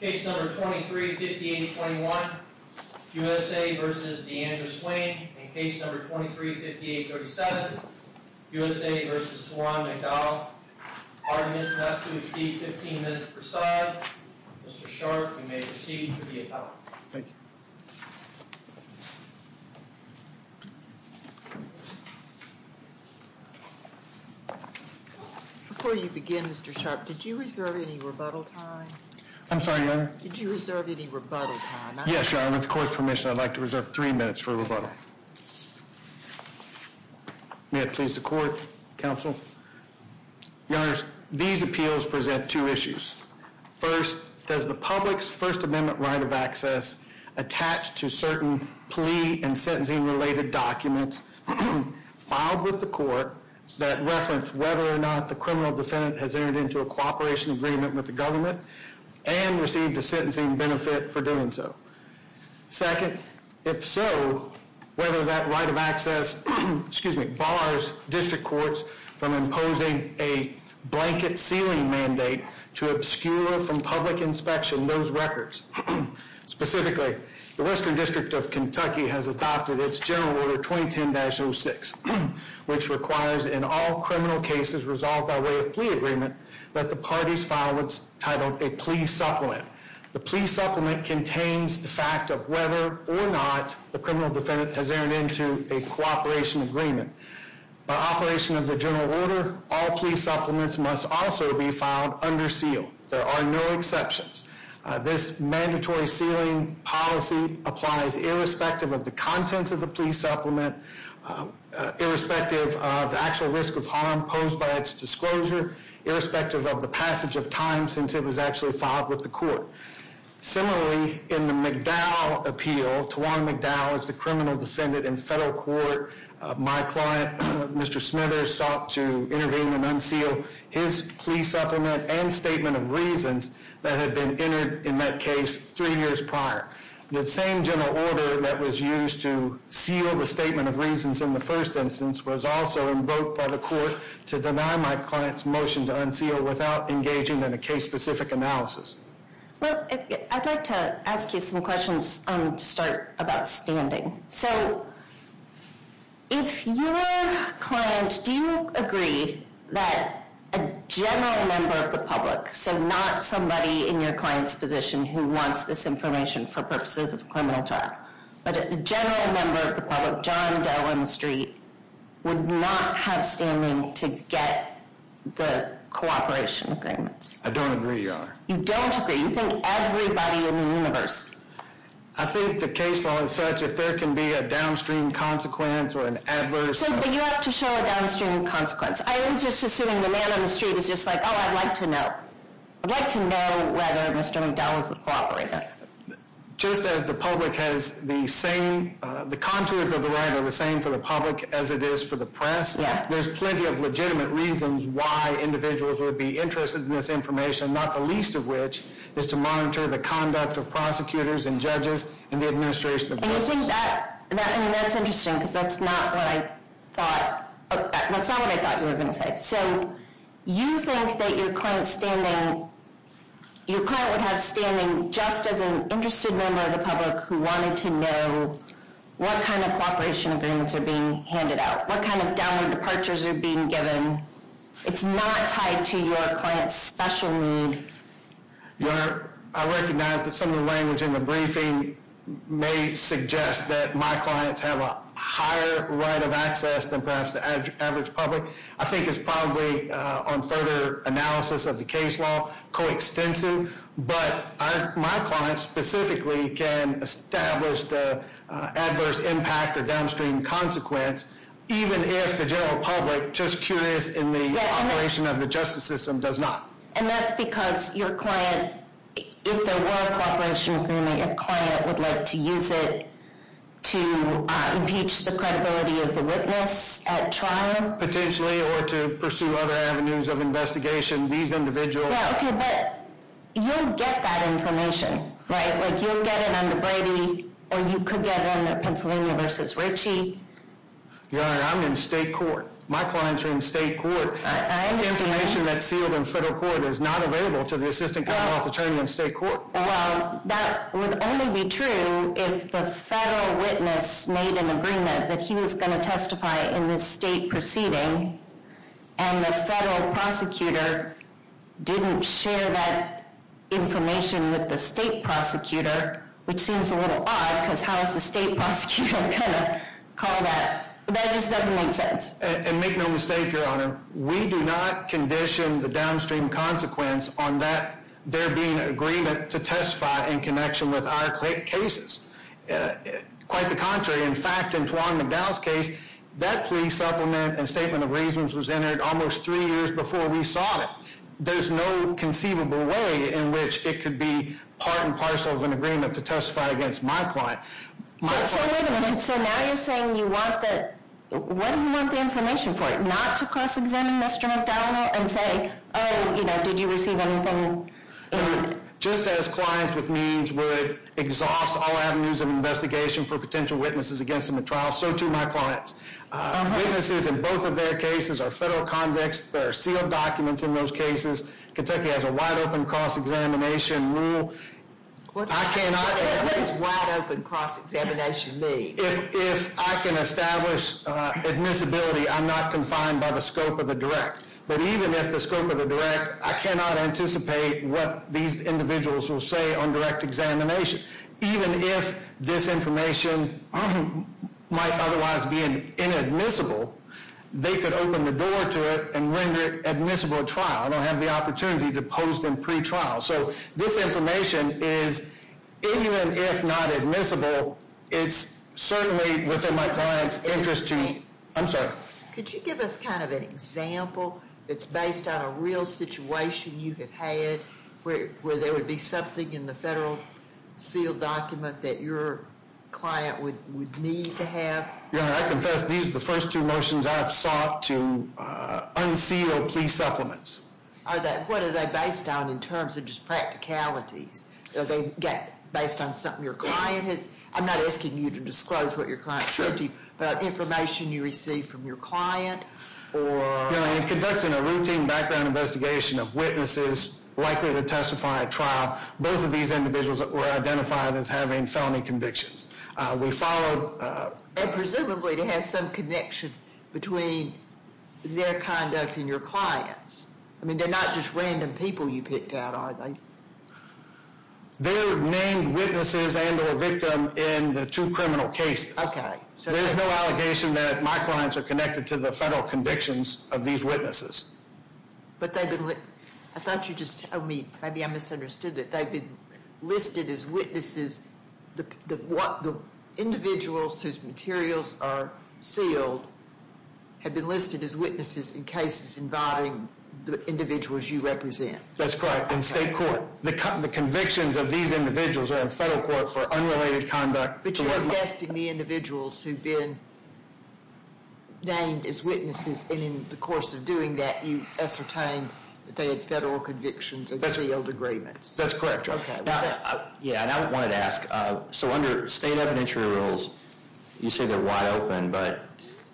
Case No. 23-58-21, USA v. Deandre Swain Case No. 23-58-37, USA v. Juan McDowell 100 minutes left to exceed, 15 minutes per side Mr. Sharp, you may proceed for the appellate Thank you Before you begin, Mr. Sharp, did you reserve any rebuttal time? I'm sorry, Your Honor Did you reserve any rebuttal time? Yes, Your Honor. With the court's permission, I'd like to reserve three minutes for rebuttal May it please the court, counsel Your Honor, these appeals present two issues First, does the public's First Amendment right of access attached to certain plea and sentencing related documents filed with the court that reference whether or not the criminal defendant has entered into a cooperation agreement with the government and received a sentencing benefit for doing so Second, if so, whether that right of access bars district courts from imposing a blanket sealing mandate to obscure from public inspection those records Specifically, the Western District of Kentucky has adopted its General Order 2010-06 which requires in all criminal cases resolved by way of plea agreement that the parties file what's titled a plea supplement The plea supplement contains the fact of whether or not the criminal defendant has entered into a cooperation agreement By operation of the General Order all plea supplements must also be filed under seal There are no exceptions This mandatory sealing policy applies irrespective of the contents of the plea supplement irrespective of the actual risk of harm posed by its disclosure irrespective of the passage of time since it was actually filed with the court Similarly, in the McDowell appeal Tawana McDowell is the criminal defendant in federal court My client, Mr. Smithers, sought to intervene and unseal his plea supplement and statement of reasons that had been entered in that case three years prior The same General Order that was used to seal the statement of reasons in the first instance was also invoked by the court to deny my client's motion to unseal without engaging in a case-specific analysis Well, I'd like to ask you some questions to start about standing So, if you were a client do you agree that a general member of the public so not somebody in your client's position who wants this information for purposes of a criminal trial but a general member of the public would not have standing to get the cooperation agreements I don't agree, Your Honor You don't agree? You think everybody in the universe I think the case law is such if there can be a downstream consequence or an adverse So, you have to show a downstream consequence I am just assuming the man on the street is just like Oh, I'd like to know I'd like to know whether Mr. McDowell is a cooperator Just as the public has the same The contours of the line are the same for the public as it is for the press There's plenty of legitimate reasons why individuals would be interested in this information not the least of which is to monitor the conduct of prosecutors and judges in the administration of the books And you think that I mean, that's interesting because that's not what I thought That's not what I thought you were going to say So, you think that your client's standing Your client would have standing just as an interested member of the public who wanted to know what kind of cooperation agreements are being handed out what kind of downward departures are being given It's not tied to your client's special need Your Honor, I recognize that some of the language in the briefing may suggest that my clients have a higher right of access than perhaps the average public I think it's probably on further analysis of the case law coextensive But my clients specifically can establish the adverse impact or downstream consequence even if the general public just curious in the operation of the justice system does not And that's because your client if there were a cooperation agreement your client would like to use it to impeach the credibility of the witness at trial Potentially, or to pursue other avenues of investigation You'll get that information You'll get it under Brady or you could get it under Pennsylvania v. Ritchie Your Honor, I'm in state court My clients are in state court Information that's sealed in federal court is not available to the Assistant Commonwealth Attorney in state court Well, that would only be true if the federal witness made an agreement that he was going to testify in this state proceeding and the federal prosecutor didn't share that information with the state prosecutor which seems a little odd because how is the state prosecutor going to call that? That just doesn't make sense And make no mistake, Your Honor We do not condition the downstream consequence on that there being an agreement to testify in connection with our cases Quite the contrary In fact, in Tuan McDowell's case that plea supplement and statement of reasons was entered almost three years before we sought it There's no conceivable way in which it could be part and parcel of an agreement to testify against my client So wait a minute So now you're saying you want the What do you want the information for? Not to cross-examine Mr. McDowell and say Oh, you know, did you receive anything? Just as clients with means would exhaust all avenues of investigation for potential witnesses against them at trial so too my clients Witnesses in both of their cases are federal convicts There are sealed documents in those cases Kentucky has a wide-open cross-examination rule I cannot What does wide-open cross-examination mean? If I can establish admissibility I'm not confined by the scope of the direct But even if the scope of the direct I cannot anticipate what these individuals will say on direct examination Even if this information might otherwise be inadmissible they could open the door to it and render it admissible at trial I don't have the opportunity to pose them pre-trial So this information is even if not admissible it's certainly within my client's interest to I'm sorry Could you give us kind of an example that's based on a real situation you have had where there would be something in the federal sealed document that your client would need to have? Yeah, I confess these are the first two motions I have sought to unseal plea supplements What are they based on in terms of just practicalities? Are they based on something your client has I'm not asking you to disclose what your client said to you but information you received from your client or Conducting a routine background investigation of witnesses likely to testify at trial Both of these individuals were identified as having felony convictions We followed And presumably they have some connection between their conduct and your client's I mean they're not just random people you picked out are they? They're named witnesses and or victim in the two criminal cases Okay There's no allegation that my clients are connected to the federal convictions of these witnesses But they've been I thought you just told me Maybe I misunderstood it They've been listed as witnesses The individuals whose materials are sealed have been listed as witnesses in cases involving the individuals you represent That's correct, in state court The convictions of these individuals are in federal court for unrelated conduct But you're investing the individuals who've been named as witnesses And in the course of doing that you ascertain that they had federal convictions and sealed agreements That's correct Okay Yeah and I wanted to ask So under state evidentiary rules You say they're wide open but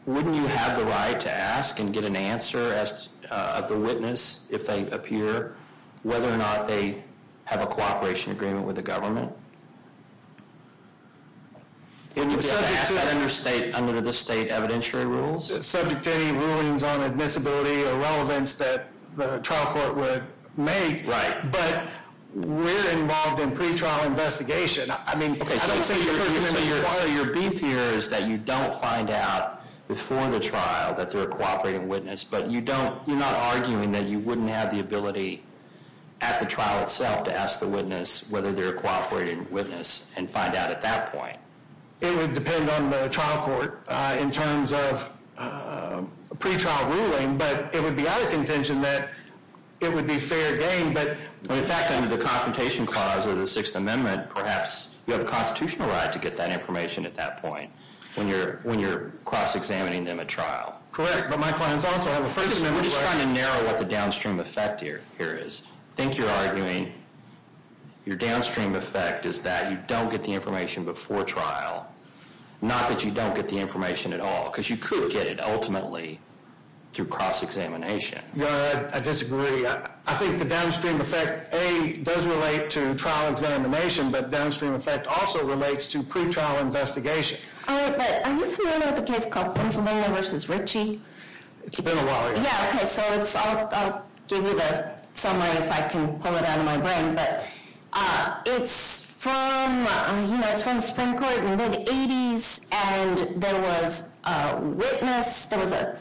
Wouldn't you have the right to ask and get an answer as of the witness if they appear Whether or not they have a cooperation agreement with the government Can you ask that under state under the state evidentiary rules Subject to any rulings on admissibility or relevance that the trial court would make Right But we're involved in pre-trial investigation I mean I don't think you're So part of your beef here is that you don't find out before the trial that they're a cooperating witness But you don't You're not arguing that you wouldn't have the ability at the trial itself to ask the witness whether they're a cooperating witness and find out at that point It would depend on the trial court in terms of pre-trial ruling but it would be out of contention that it would be fair game but In fact under the confrontation clause of the sixth amendment perhaps you have a constitutional right to get that information at that point when you're cross-examining them at trial Correct but my plan is also I'm just trying to narrow what the downstream effect here is I think you're arguing your downstream effect is that you don't get the information before trial not that you don't get the information at all because you could get it ultimately through cross-examination I disagree I think the downstream effect A, does relate to trial examination but downstream effect also relates to pre-trial investigation Alright but are you familiar with the case called Gonzalo vs. Ritchie? It's been a while Yeah okay so it's I'll give you the summary if I can pull it out of my brain but it's from it's from the Supreme Court in the mid-80s and there was a witness there was a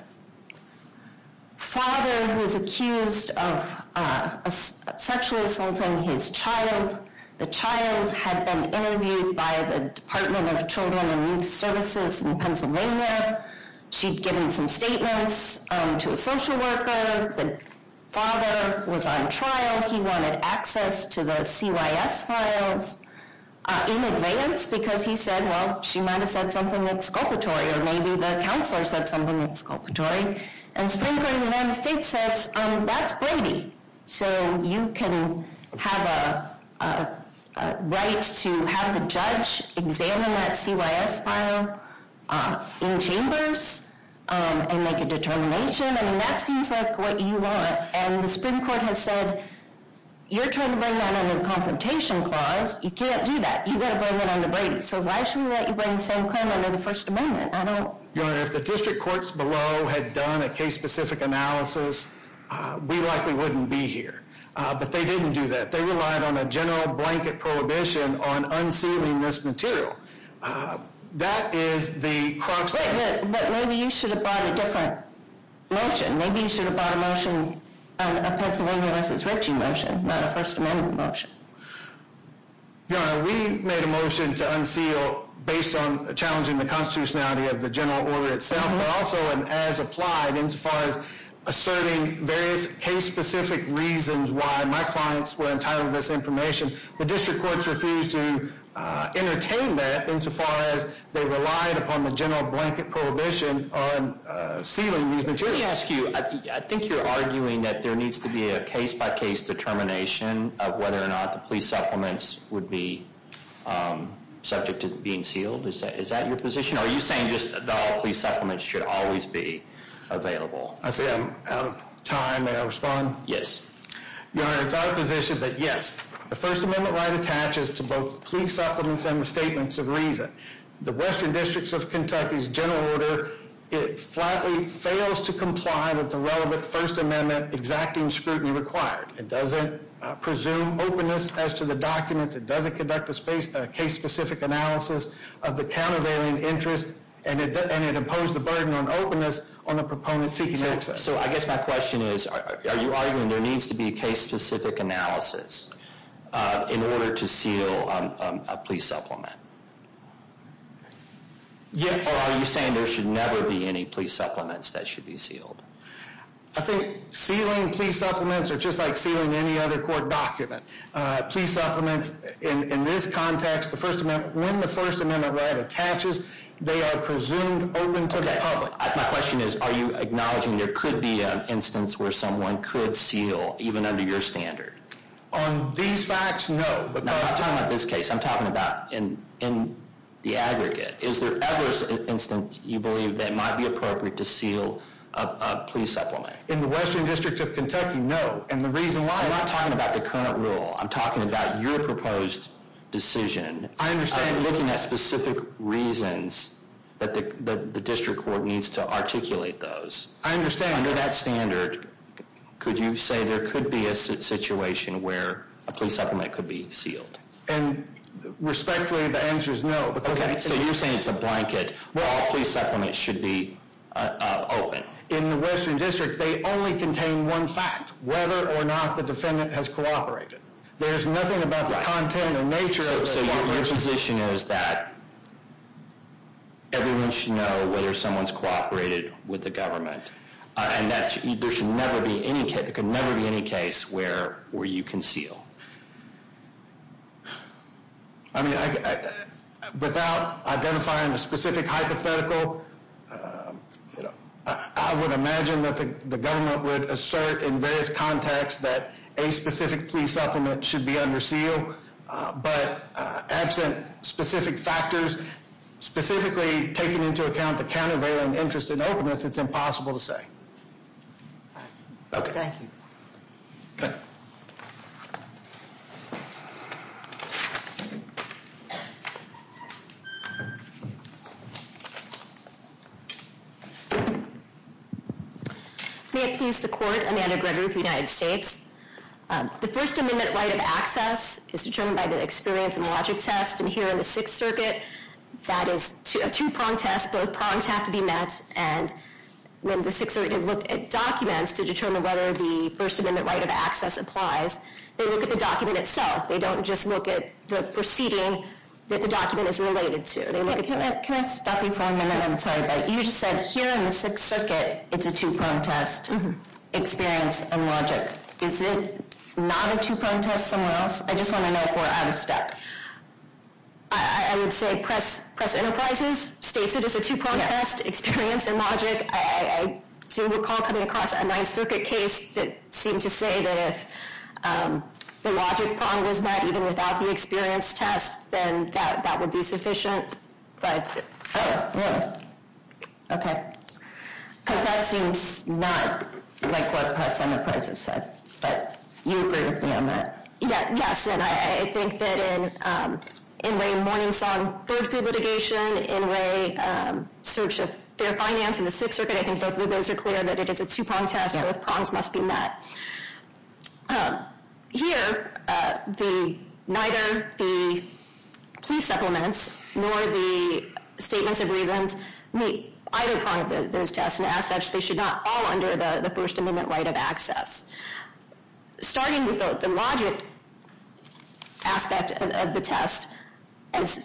father who was accused of sexually assaulting his child the child had been interviewed by the Department of Children and Youth Services in Pennsylvania she'd given some statements to a social worker the father was on trial he wanted access to the CYS files in advance because he said well she might have said something exculpatory or maybe the counselor said something exculpatory and Supreme Court of the United States says that's Brady so you can have a right to have the judge examine that CYS file in chambers and make a determination I mean that seems like what you want and the Supreme Court has said you're trying to bring that under the Confrontation Clause you can't do that you've got to bring that under Brady so why should we let you bring the same claim under the First Amendment? I don't Your Honor if the district courts below had done a case specific analysis we likely wouldn't be here but they didn't do that they relied on a general blanket prohibition on unsealing this material that is the but maybe you should have brought a different motion maybe you should have brought a motion a Pennsylvania v. Ritchie motion not a First Amendment motion Your Honor we made a motion to unseal based on challenging the constitutionality of the general order itself but also as applied in so far as asserting various case specific reasons why my clients were entitled to this information the district courts refused to entertain that in so far as they relied upon the general blanket prohibition on sealing these materials let me ask you I think you're arguing that there needs to be a case by case determination of whether or not the police supplements would be subject to being sealed is that your position? or are you saying just that all police supplements should always be available? I see I'm out of time may I respond? Yes Your Honor it's our position that yes the First Amendment right attaches to both police supplements and the statements of reason the Western Districts of Kentucky's general order it flatly fails to comply with the relevant First Amendment exacting scrutiny required it doesn't presume openness as to the documents it doesn't conduct a case specific analysis of the countervailing interest and it imposed the burden on openness on the proponent seeking access so I guess my question is are you arguing there needs to be a case specific analysis in order to seal a police supplement? Yes or are you saying there should never be any police supplements that should be sealed? I think sealing police supplements are just like sealing any other court document police supplements in this context the First Amendment when the First Amendment right attaches they are presumed open to the public My question is are you acknowledging there could be an instance where someone could seal even under your standard? On these facts no Now I'm talking about this case I'm talking about in the aggregate is there ever an instance you believe that might be appropriate to seal a police supplement? In the Western District of Kentucky no and the reason why I'm not talking about the current rule I'm talking about your proposed decision I understand I'm looking at specific reasons that the District Court needs to articulate those I understand Under that standard could you say there could be a situation where a police supplement could be sealed? Respectfully the answer is no So you're saying it's a blanket all police supplements should be open In the Western District they only contain one fact whether or not the defendant has cooperated There's nothing about the content or nature of the supplement So your position is that everyone should know whether someone has cooperated with the government and there should never be any case where you conceal I mean without identifying a specific hypothetical I would imagine that the government would assert in various contexts that a specific police supplement should be under seal but absent specific factors specifically taking into account the countervailing interest in openness it's impossible to say Okay Thank you Good May it please the Court Amanda Gregory of the United States The First Amendment right of access is determined by the experience and logic test and here in the Sixth Circuit that is a two prong test both prongs have to be met and when the Sixth Circuit has looked at documents to determine whether the First Amendment right of access applies they look at the document itself they don't just look at the proceeding that the document is related to Can I stop you for a minute? I'm sorry but you just said here in the Sixth Circuit it's a two prong test experience and logic Is it not a two prong test somewhere else? I just want to know if we're out of stack I would say Press Enterprises states it as a two prong test experience and logic I do recall coming across a Ninth Circuit case that seemed to say that if the logic prong was met even without the experience test then that would be sufficient but Oh, really? Okay Because that seems not like what Press Enterprises said but you agree with me on that Yes, and I think that in the Mourning Song third pre-litigation in the search of fair finance in the Sixth Circuit I think both of those are clear that it is a two prong test both prongs must be met Here neither the plea supplements nor the statements of reasons meet either prong of those tests and as such they should not all under the First Amendment right of access Starting with the logic aspect of the test as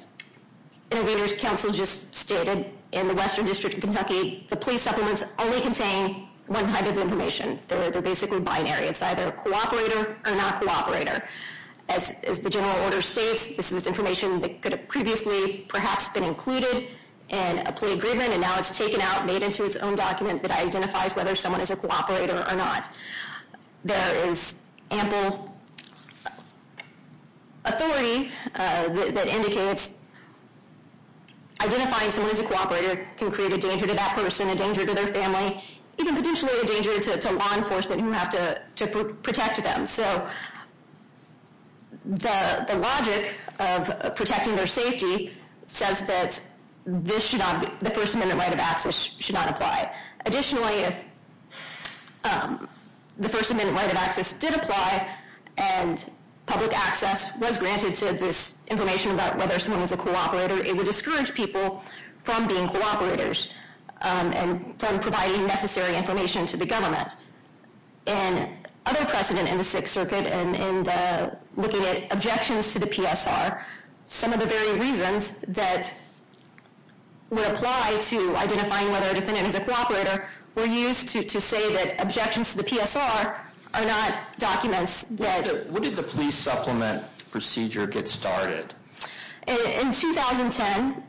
Intervenors Council just stated in the Western District of Kentucky The plea supplements only contain one type of information They're basically binary It's either a cooperator or not cooperator As the general order states this is information that could have previously perhaps been included in a plea agreement and now it's taken out made into its own document that identifies whether someone is a cooperator or not There is ample authority that indicates identifying someone as a cooperator can create a danger to that person a danger to their family even potentially a danger to law enforcement who have to protect them So the logic of protecting their safety says that the First Amendment right of access should not apply Additionally the First Amendment right of access did apply and public access was granted to this information about whether someone was a cooperator It would discourage people from being cooperators and from providing necessary information to the government Another precedent in the Sixth Circuit in looking at objections to the PSR some of the very reasons that would apply to identifying whether a defendant is a cooperator were used to say that objections to the PSR are not documents What did the plea supplement procedure get started? In 2010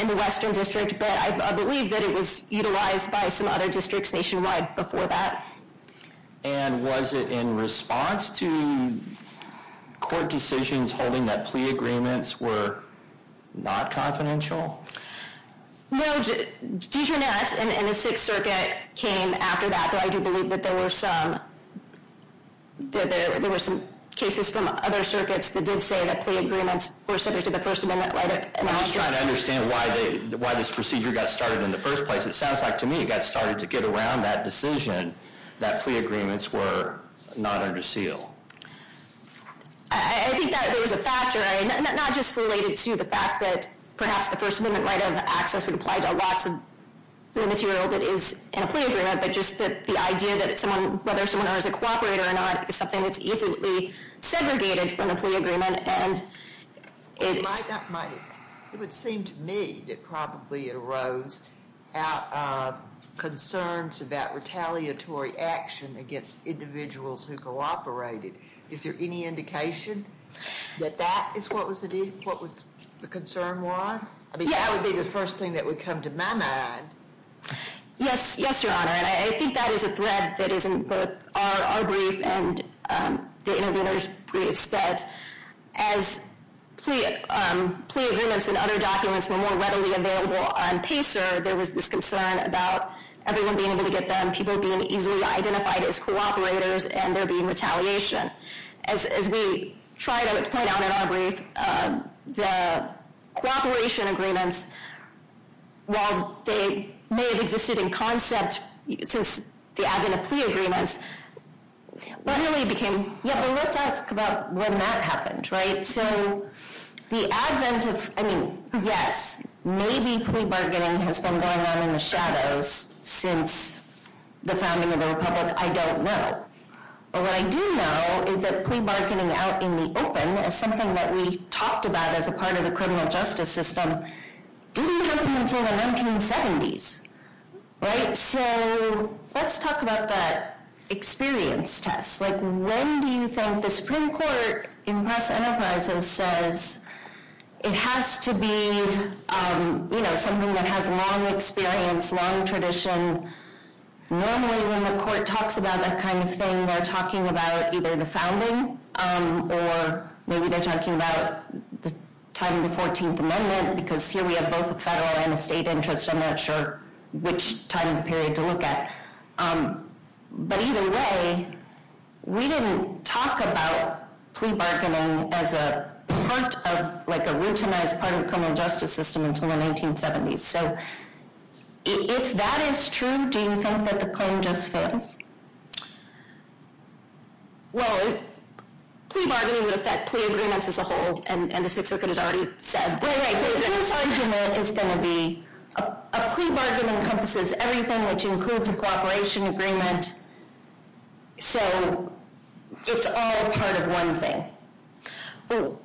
in the Western District but I believe that it was utilized by some other districts nationwide before that And was it in response to court decisions holding that plea agreements were not confidential? No Dejarnet in the Sixth Circuit came after that but I do believe that there were some there were some cases from other circuits that did say that plea agreements were subject to the I'm just trying to understand why this procedure got started in the first place It sounds like to me it got started to get around that decision that plea agreements were not under seal I think that there was a factor not just related to the fact that perhaps the first amendment right of access would apply to lots of material that is in a plea agreement but just the idea that whether someone is a cooperator or not is something that's easily segregated from a plea agreement It might not It would seem to me that probably it arose out of concerns about retaliatory action against individuals who cooperated Is there any indication that that is what was the concern was? I mean that would be the first thing that would come to my mind Yes Yes your honor and I think that is a thread that is in both our brief and the interviewer's brief that as plea agreements and other documents were more readily available on PACER there was this concern about everyone being able to get them people being easily identified as cooperators and there being retaliation As we try to point out in our brief the cooperation agreements while they may have existed in concept since the advent of plea agreements literally became yeah but let's ask about when that happened right so the advent of I mean yes maybe plea bargaining has been going on in the shadows since the founding of the republic I don't know but what I do know is that plea bargaining out in the open is something that we talked about as a part of the criminal justice system didn't happen until the 1970s right so let's talk about that experience test like when do you think the supreme court in press enterprises says it has to be you know something that has long experience long tradition normally when the court talks about that kind of thing they're talking about either the founding or maybe they're talking about the time of the 14th amendment because here we have both a federal and a state interest I'm not sure which time period to look at but either way we didn't talk about plea bargaining as a part of like a routinized part of the criminal justice system until the 1970s so if that is true do you think that the claim just fails well plea bargaining would affect plea agreements as a whole and the sixth circuit has already said this argument is going to be a plea bargaining encompasses everything which includes a cooperation agreement so it's all part of one thing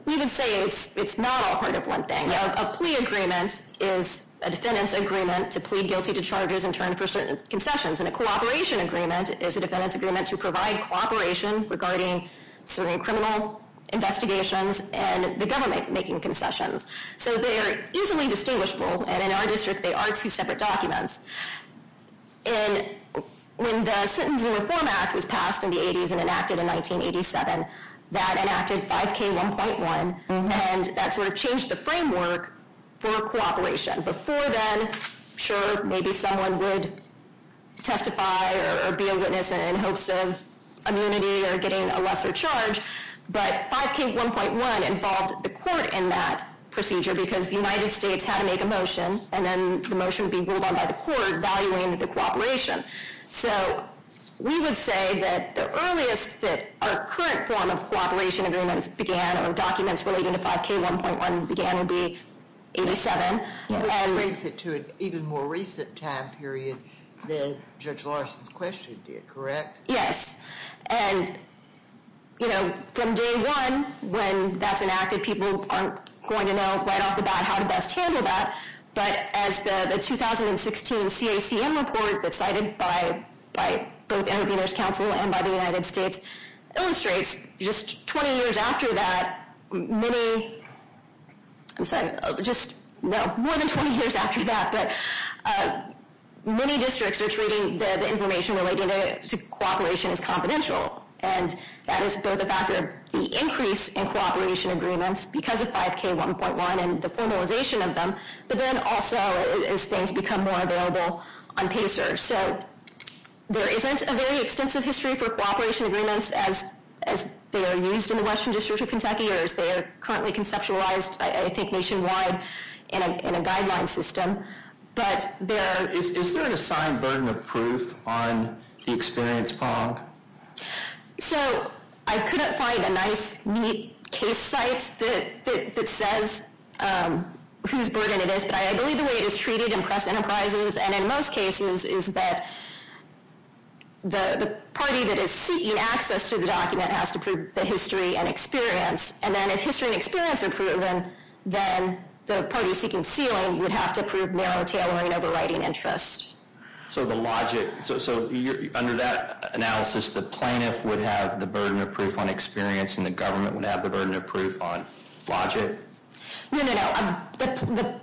we would say it's not all part of one thing a plea agreement is a defendant's agreement to plead guilty to charges and turn for certain concessions and a cooperation agreement is a defendant's agreement to provide cooperation regarding certain criminal investigations and the government making concessions so they are easily distinguishable and in our district they are two separate documents and when the Sentencing Reform Act was passed in the 80's and enacted in 1987 that enacted 5k1.1 and that sort of changed the framework for cooperation before then sure maybe someone would testify or be a witness in hopes of immunity or getting a lesser charge but 5k1.1 involved the court in that procedure because the United States had to make a motion and then the motion being ruled on by the court valuing the cooperation so we would say that the earliest that our current form of cooperation agreements began or documents relating to 5k1.1 began would be 87 and that brings it to an even more recent time period than Judge Larson's question did correct? and you know from day one when that's enacted people aren't going to know right off the bat how to best handle that but as the 2016 CACM report that's cited by both intervenors council and by the United States illustrates just 20 years after that many I'm sorry just no more than 20 years after that but many districts are treating the information relating to cooperation as confidential and that is both a factor in the increase in cooperation agreements because of 5k1.1 and the formalization of them but then also as things become more available on PACER so there isn't a very extensive history for cooperation agreements as they are used in the western district of Kentucky or as they are currently conceptualized I think nationwide in a guideline system but there is there an assigned burden of proof on the experience fog? So I couldn't find a nice neat case site that says whose burden it is but I believe the way it is treated in press enterprises and in most cases is that the party that is seeking access to the document has to prove the and experience and then if history and experience are proven then the party seeking ceiling would have to prove narrow tailoring overwriting interest. So the logic so under that analysis the plaintiff would have the burden of proof on experience and the government would have the burden of proof on logic? No, no, no.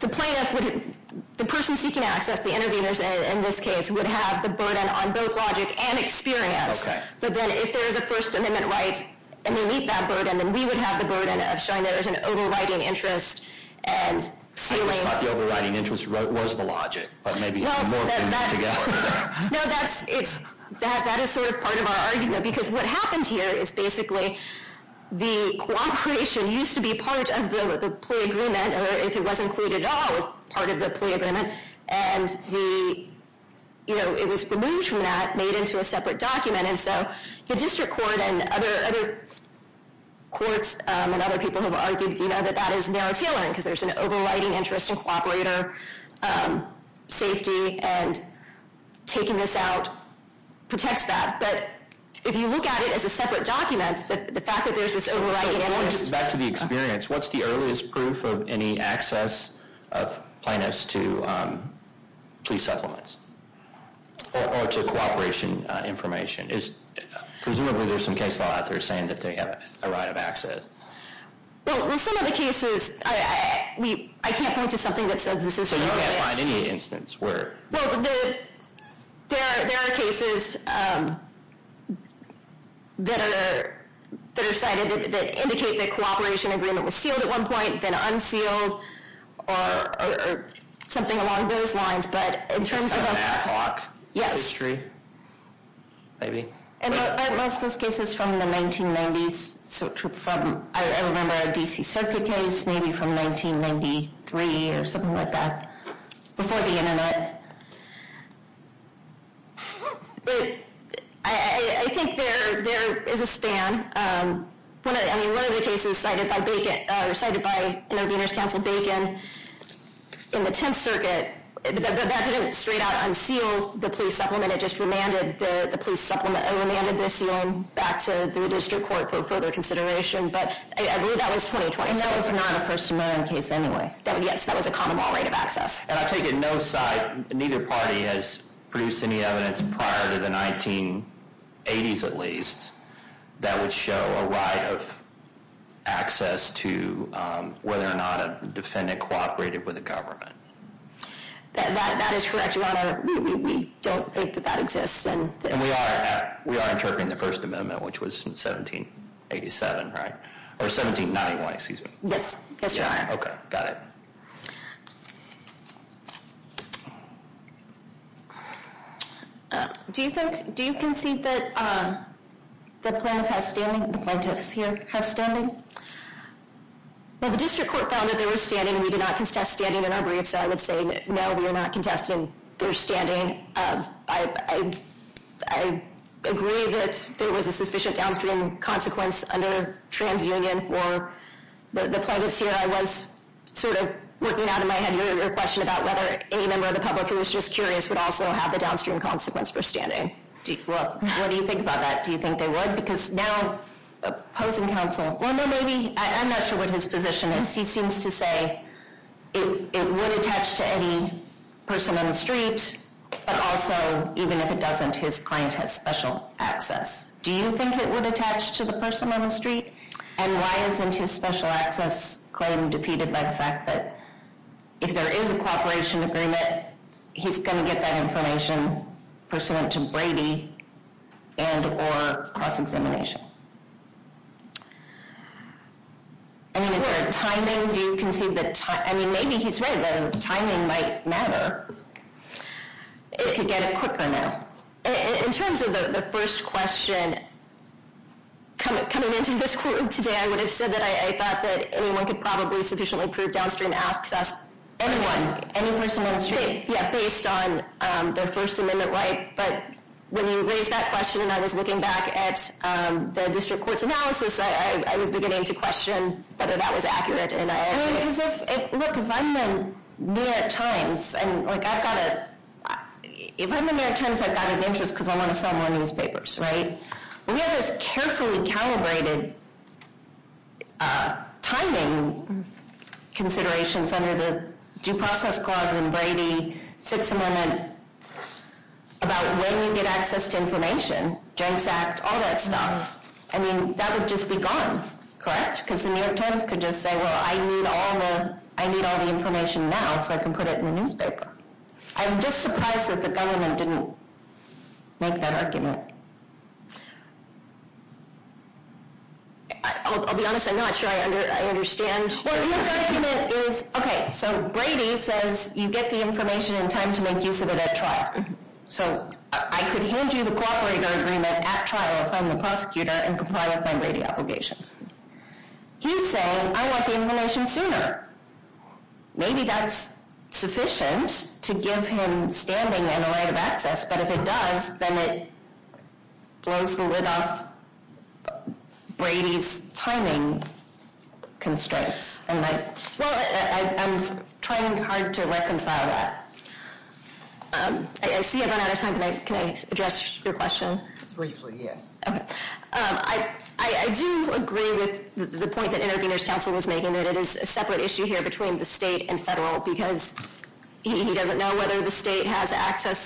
The plaintiff would the person seeking access the intervenors in this case would have the on both logic and experience but then if there is a First Amendment right and we meet that burden then we would have the burden of showing there is an overwriting interest and ceiling I wish that the overwriting interest was the logic but maybe more than that. That is sort of part of our argument because what happened here is basically the cooperation used to be part of the play agreement or if it was included at all it was part of the play agreement overwriting interest and the and taking this out protects that but if you look at it as a separate document the fact that there is this overwriting interest back to the experience what is the earliest proof of any access of plaintiffs to plea supplements or to cooperation information is presumably there is some case law out there saying that they have a right of access Well some of the cases I can't point to something that says this is So you can't find any instance where there Well there are cases that are cited that indicate that cooperation agreement was sealed at one point then unsealed or something along those lines but in terms of A back lock history maybe Most of those cases from the 1990s I remember a D.C. case I think there is a span One of the cases cited by intervenors counsel Bacon in the 10th circuit that didn't straight out the plea supplement it just remanded the plea supplement and remanded the sealing back to the district court for further consideration but I think was a common law rate of access and I take it no side neither party has produced any evidence prior to the 1980s at least that would show a right of access to whether or not a defendant cooperated with the government correct your honor we don't think that exists and we are interpreting the first amendment which was 1787 or 1791 excuse me yes your okay got it do you have say no we are not contesting their standing I agree that there was a sufficient downstream consequence under trans union for the plaintiffs here I was sort of surprised that the government didn't make that I'll be honest I'm not sure I understand okay so Brady says you get the information in time to make use of it at trial so I could hand you the cooperator agreement at trial from the state and comply with my Brady obligations he's saying I want the information sooner maybe that's sufficient to give him standing and a right of access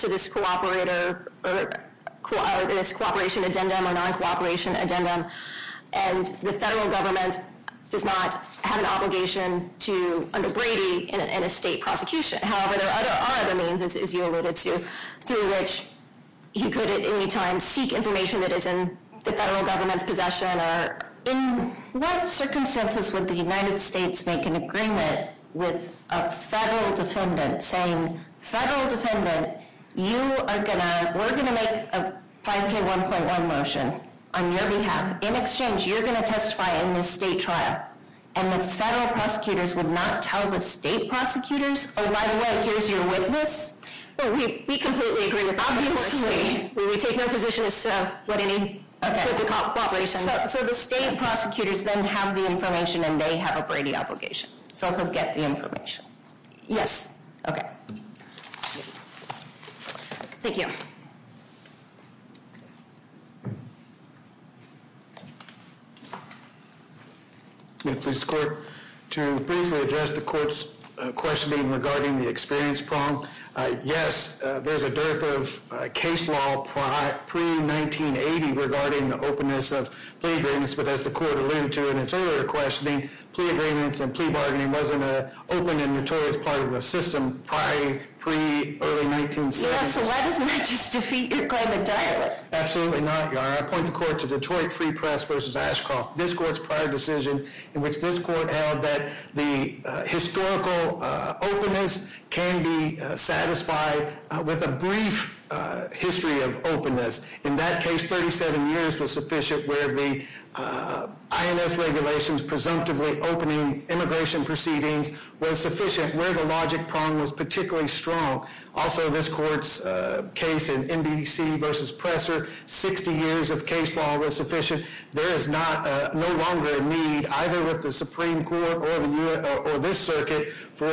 to this cooperator or this cooperation addendum or non cooperation addendum and the federal government does not have an to under Brady in a state prosecution however there are other means as you alluded to through which he possession or in what circumstances would the United States make an agreement with a federal defendant saying federal defendant you are going to make a 5k 1.1 motion on your behalf in exchange you're going to testify in this state trial and the prosecutors would not tell the state prosecutors oh by the way here's your witness we completely agree with obviously we take no position as to what any cooperation so the state prosecutors then have the information and they have a Brady obligation so he'll get the information yes okay thank you this court to briefly address the court's questioning regarding the experience problem yes there's a dearth of case law pre 1980 regarding the openness of plea agreements but as the court alluded to in its earlier questioning plea agreements and plea bargaining wasn't a open and notorious part of the system prior pre early 1970s so why doesn't that just defeat your claim entirely absolutely not your honor I point the court to Detroit Free Press versus Ashcroft this court's prior decision in which this court's INS regulations presumptively opening immigration proceedings was sufficient where the logic prong was particularly strong also this court's case in NBC versus Presser 60 years of case law was sufficient there is no longer a need either with the Supreme Court or this circuit feel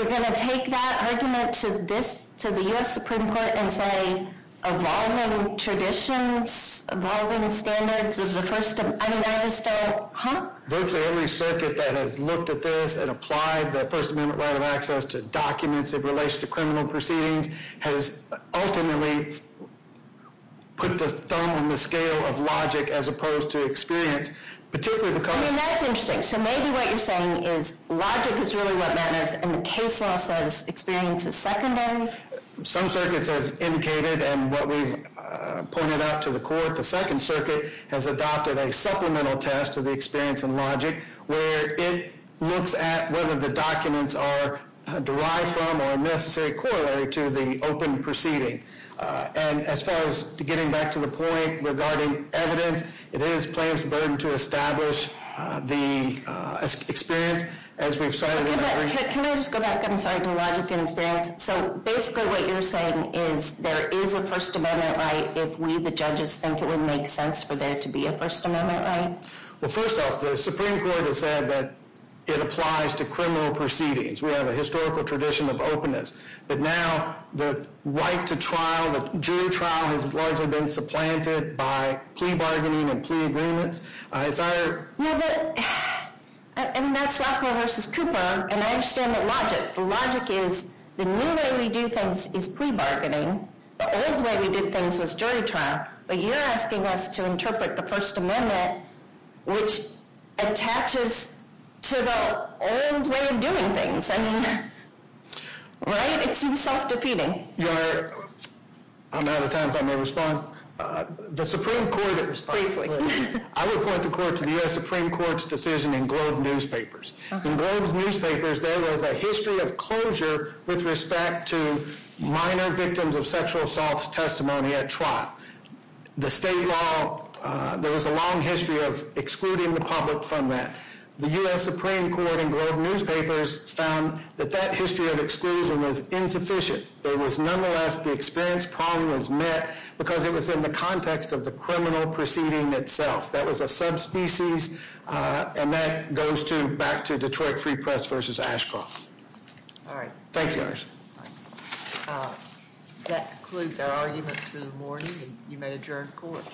like we're going to take that argument to this to the U.S. Supreme Court and say evolving traditions evolving standards of the first I mean I just said huh virtually every circuit that has looked at this and applied the first amendment right of to documents in relation to criminal proceedings has ultimately put the thumb on the scale of logic as opposed to experience particularly because I mean that's interesting so maybe what you're saying is logic is really what matters and the case law says experience is secondary some circuits have indicated and what we've pointed out to the court the second circuit has adopted a supplemental test to the experience and logic where it looks at whether the documents are derived from or necessary corollary to the open proceeding and as far as getting back to the point regarding evidence it is the plaintiff's burden to establish the experience as we've cited. Can I just go back to logic and experience? So basically what you're saying is there is a first amendment right if we the judges think it would make sense for there to be a first amendment right? Well first off the Supreme trial has largely been supplanted by plea bargaining and plea agreements. It's our I mean that's LaFleur versus Cooper and I understand the logic. The logic is the new way we do things is plea bargaining the old way we did things was jury trial but you're asking us to interpret the first amendment which attaches to the old way of doing things. I mean right? It's self-defeating. I'm out of time if I may respond. The Supreme Court I will point the court to the Court's decision in Globe Newspapers. In Globe Newspapers there was a history of closure with respect to minor victims of sexual assault testimony at trial. The state law there was a long history of excluding the public from that. The U.S. Supreme Court in Globe Newspapers found that that history of exclusion was insufficient. There was nonetheless the experience problem was met because it was in the context of the criminal proceeding itself. That was a subspecies and that goes back to Detroit Free Press versus Ashcroft. Thank you Iris. That concludes our arguments for the morning and you may now adjourn court.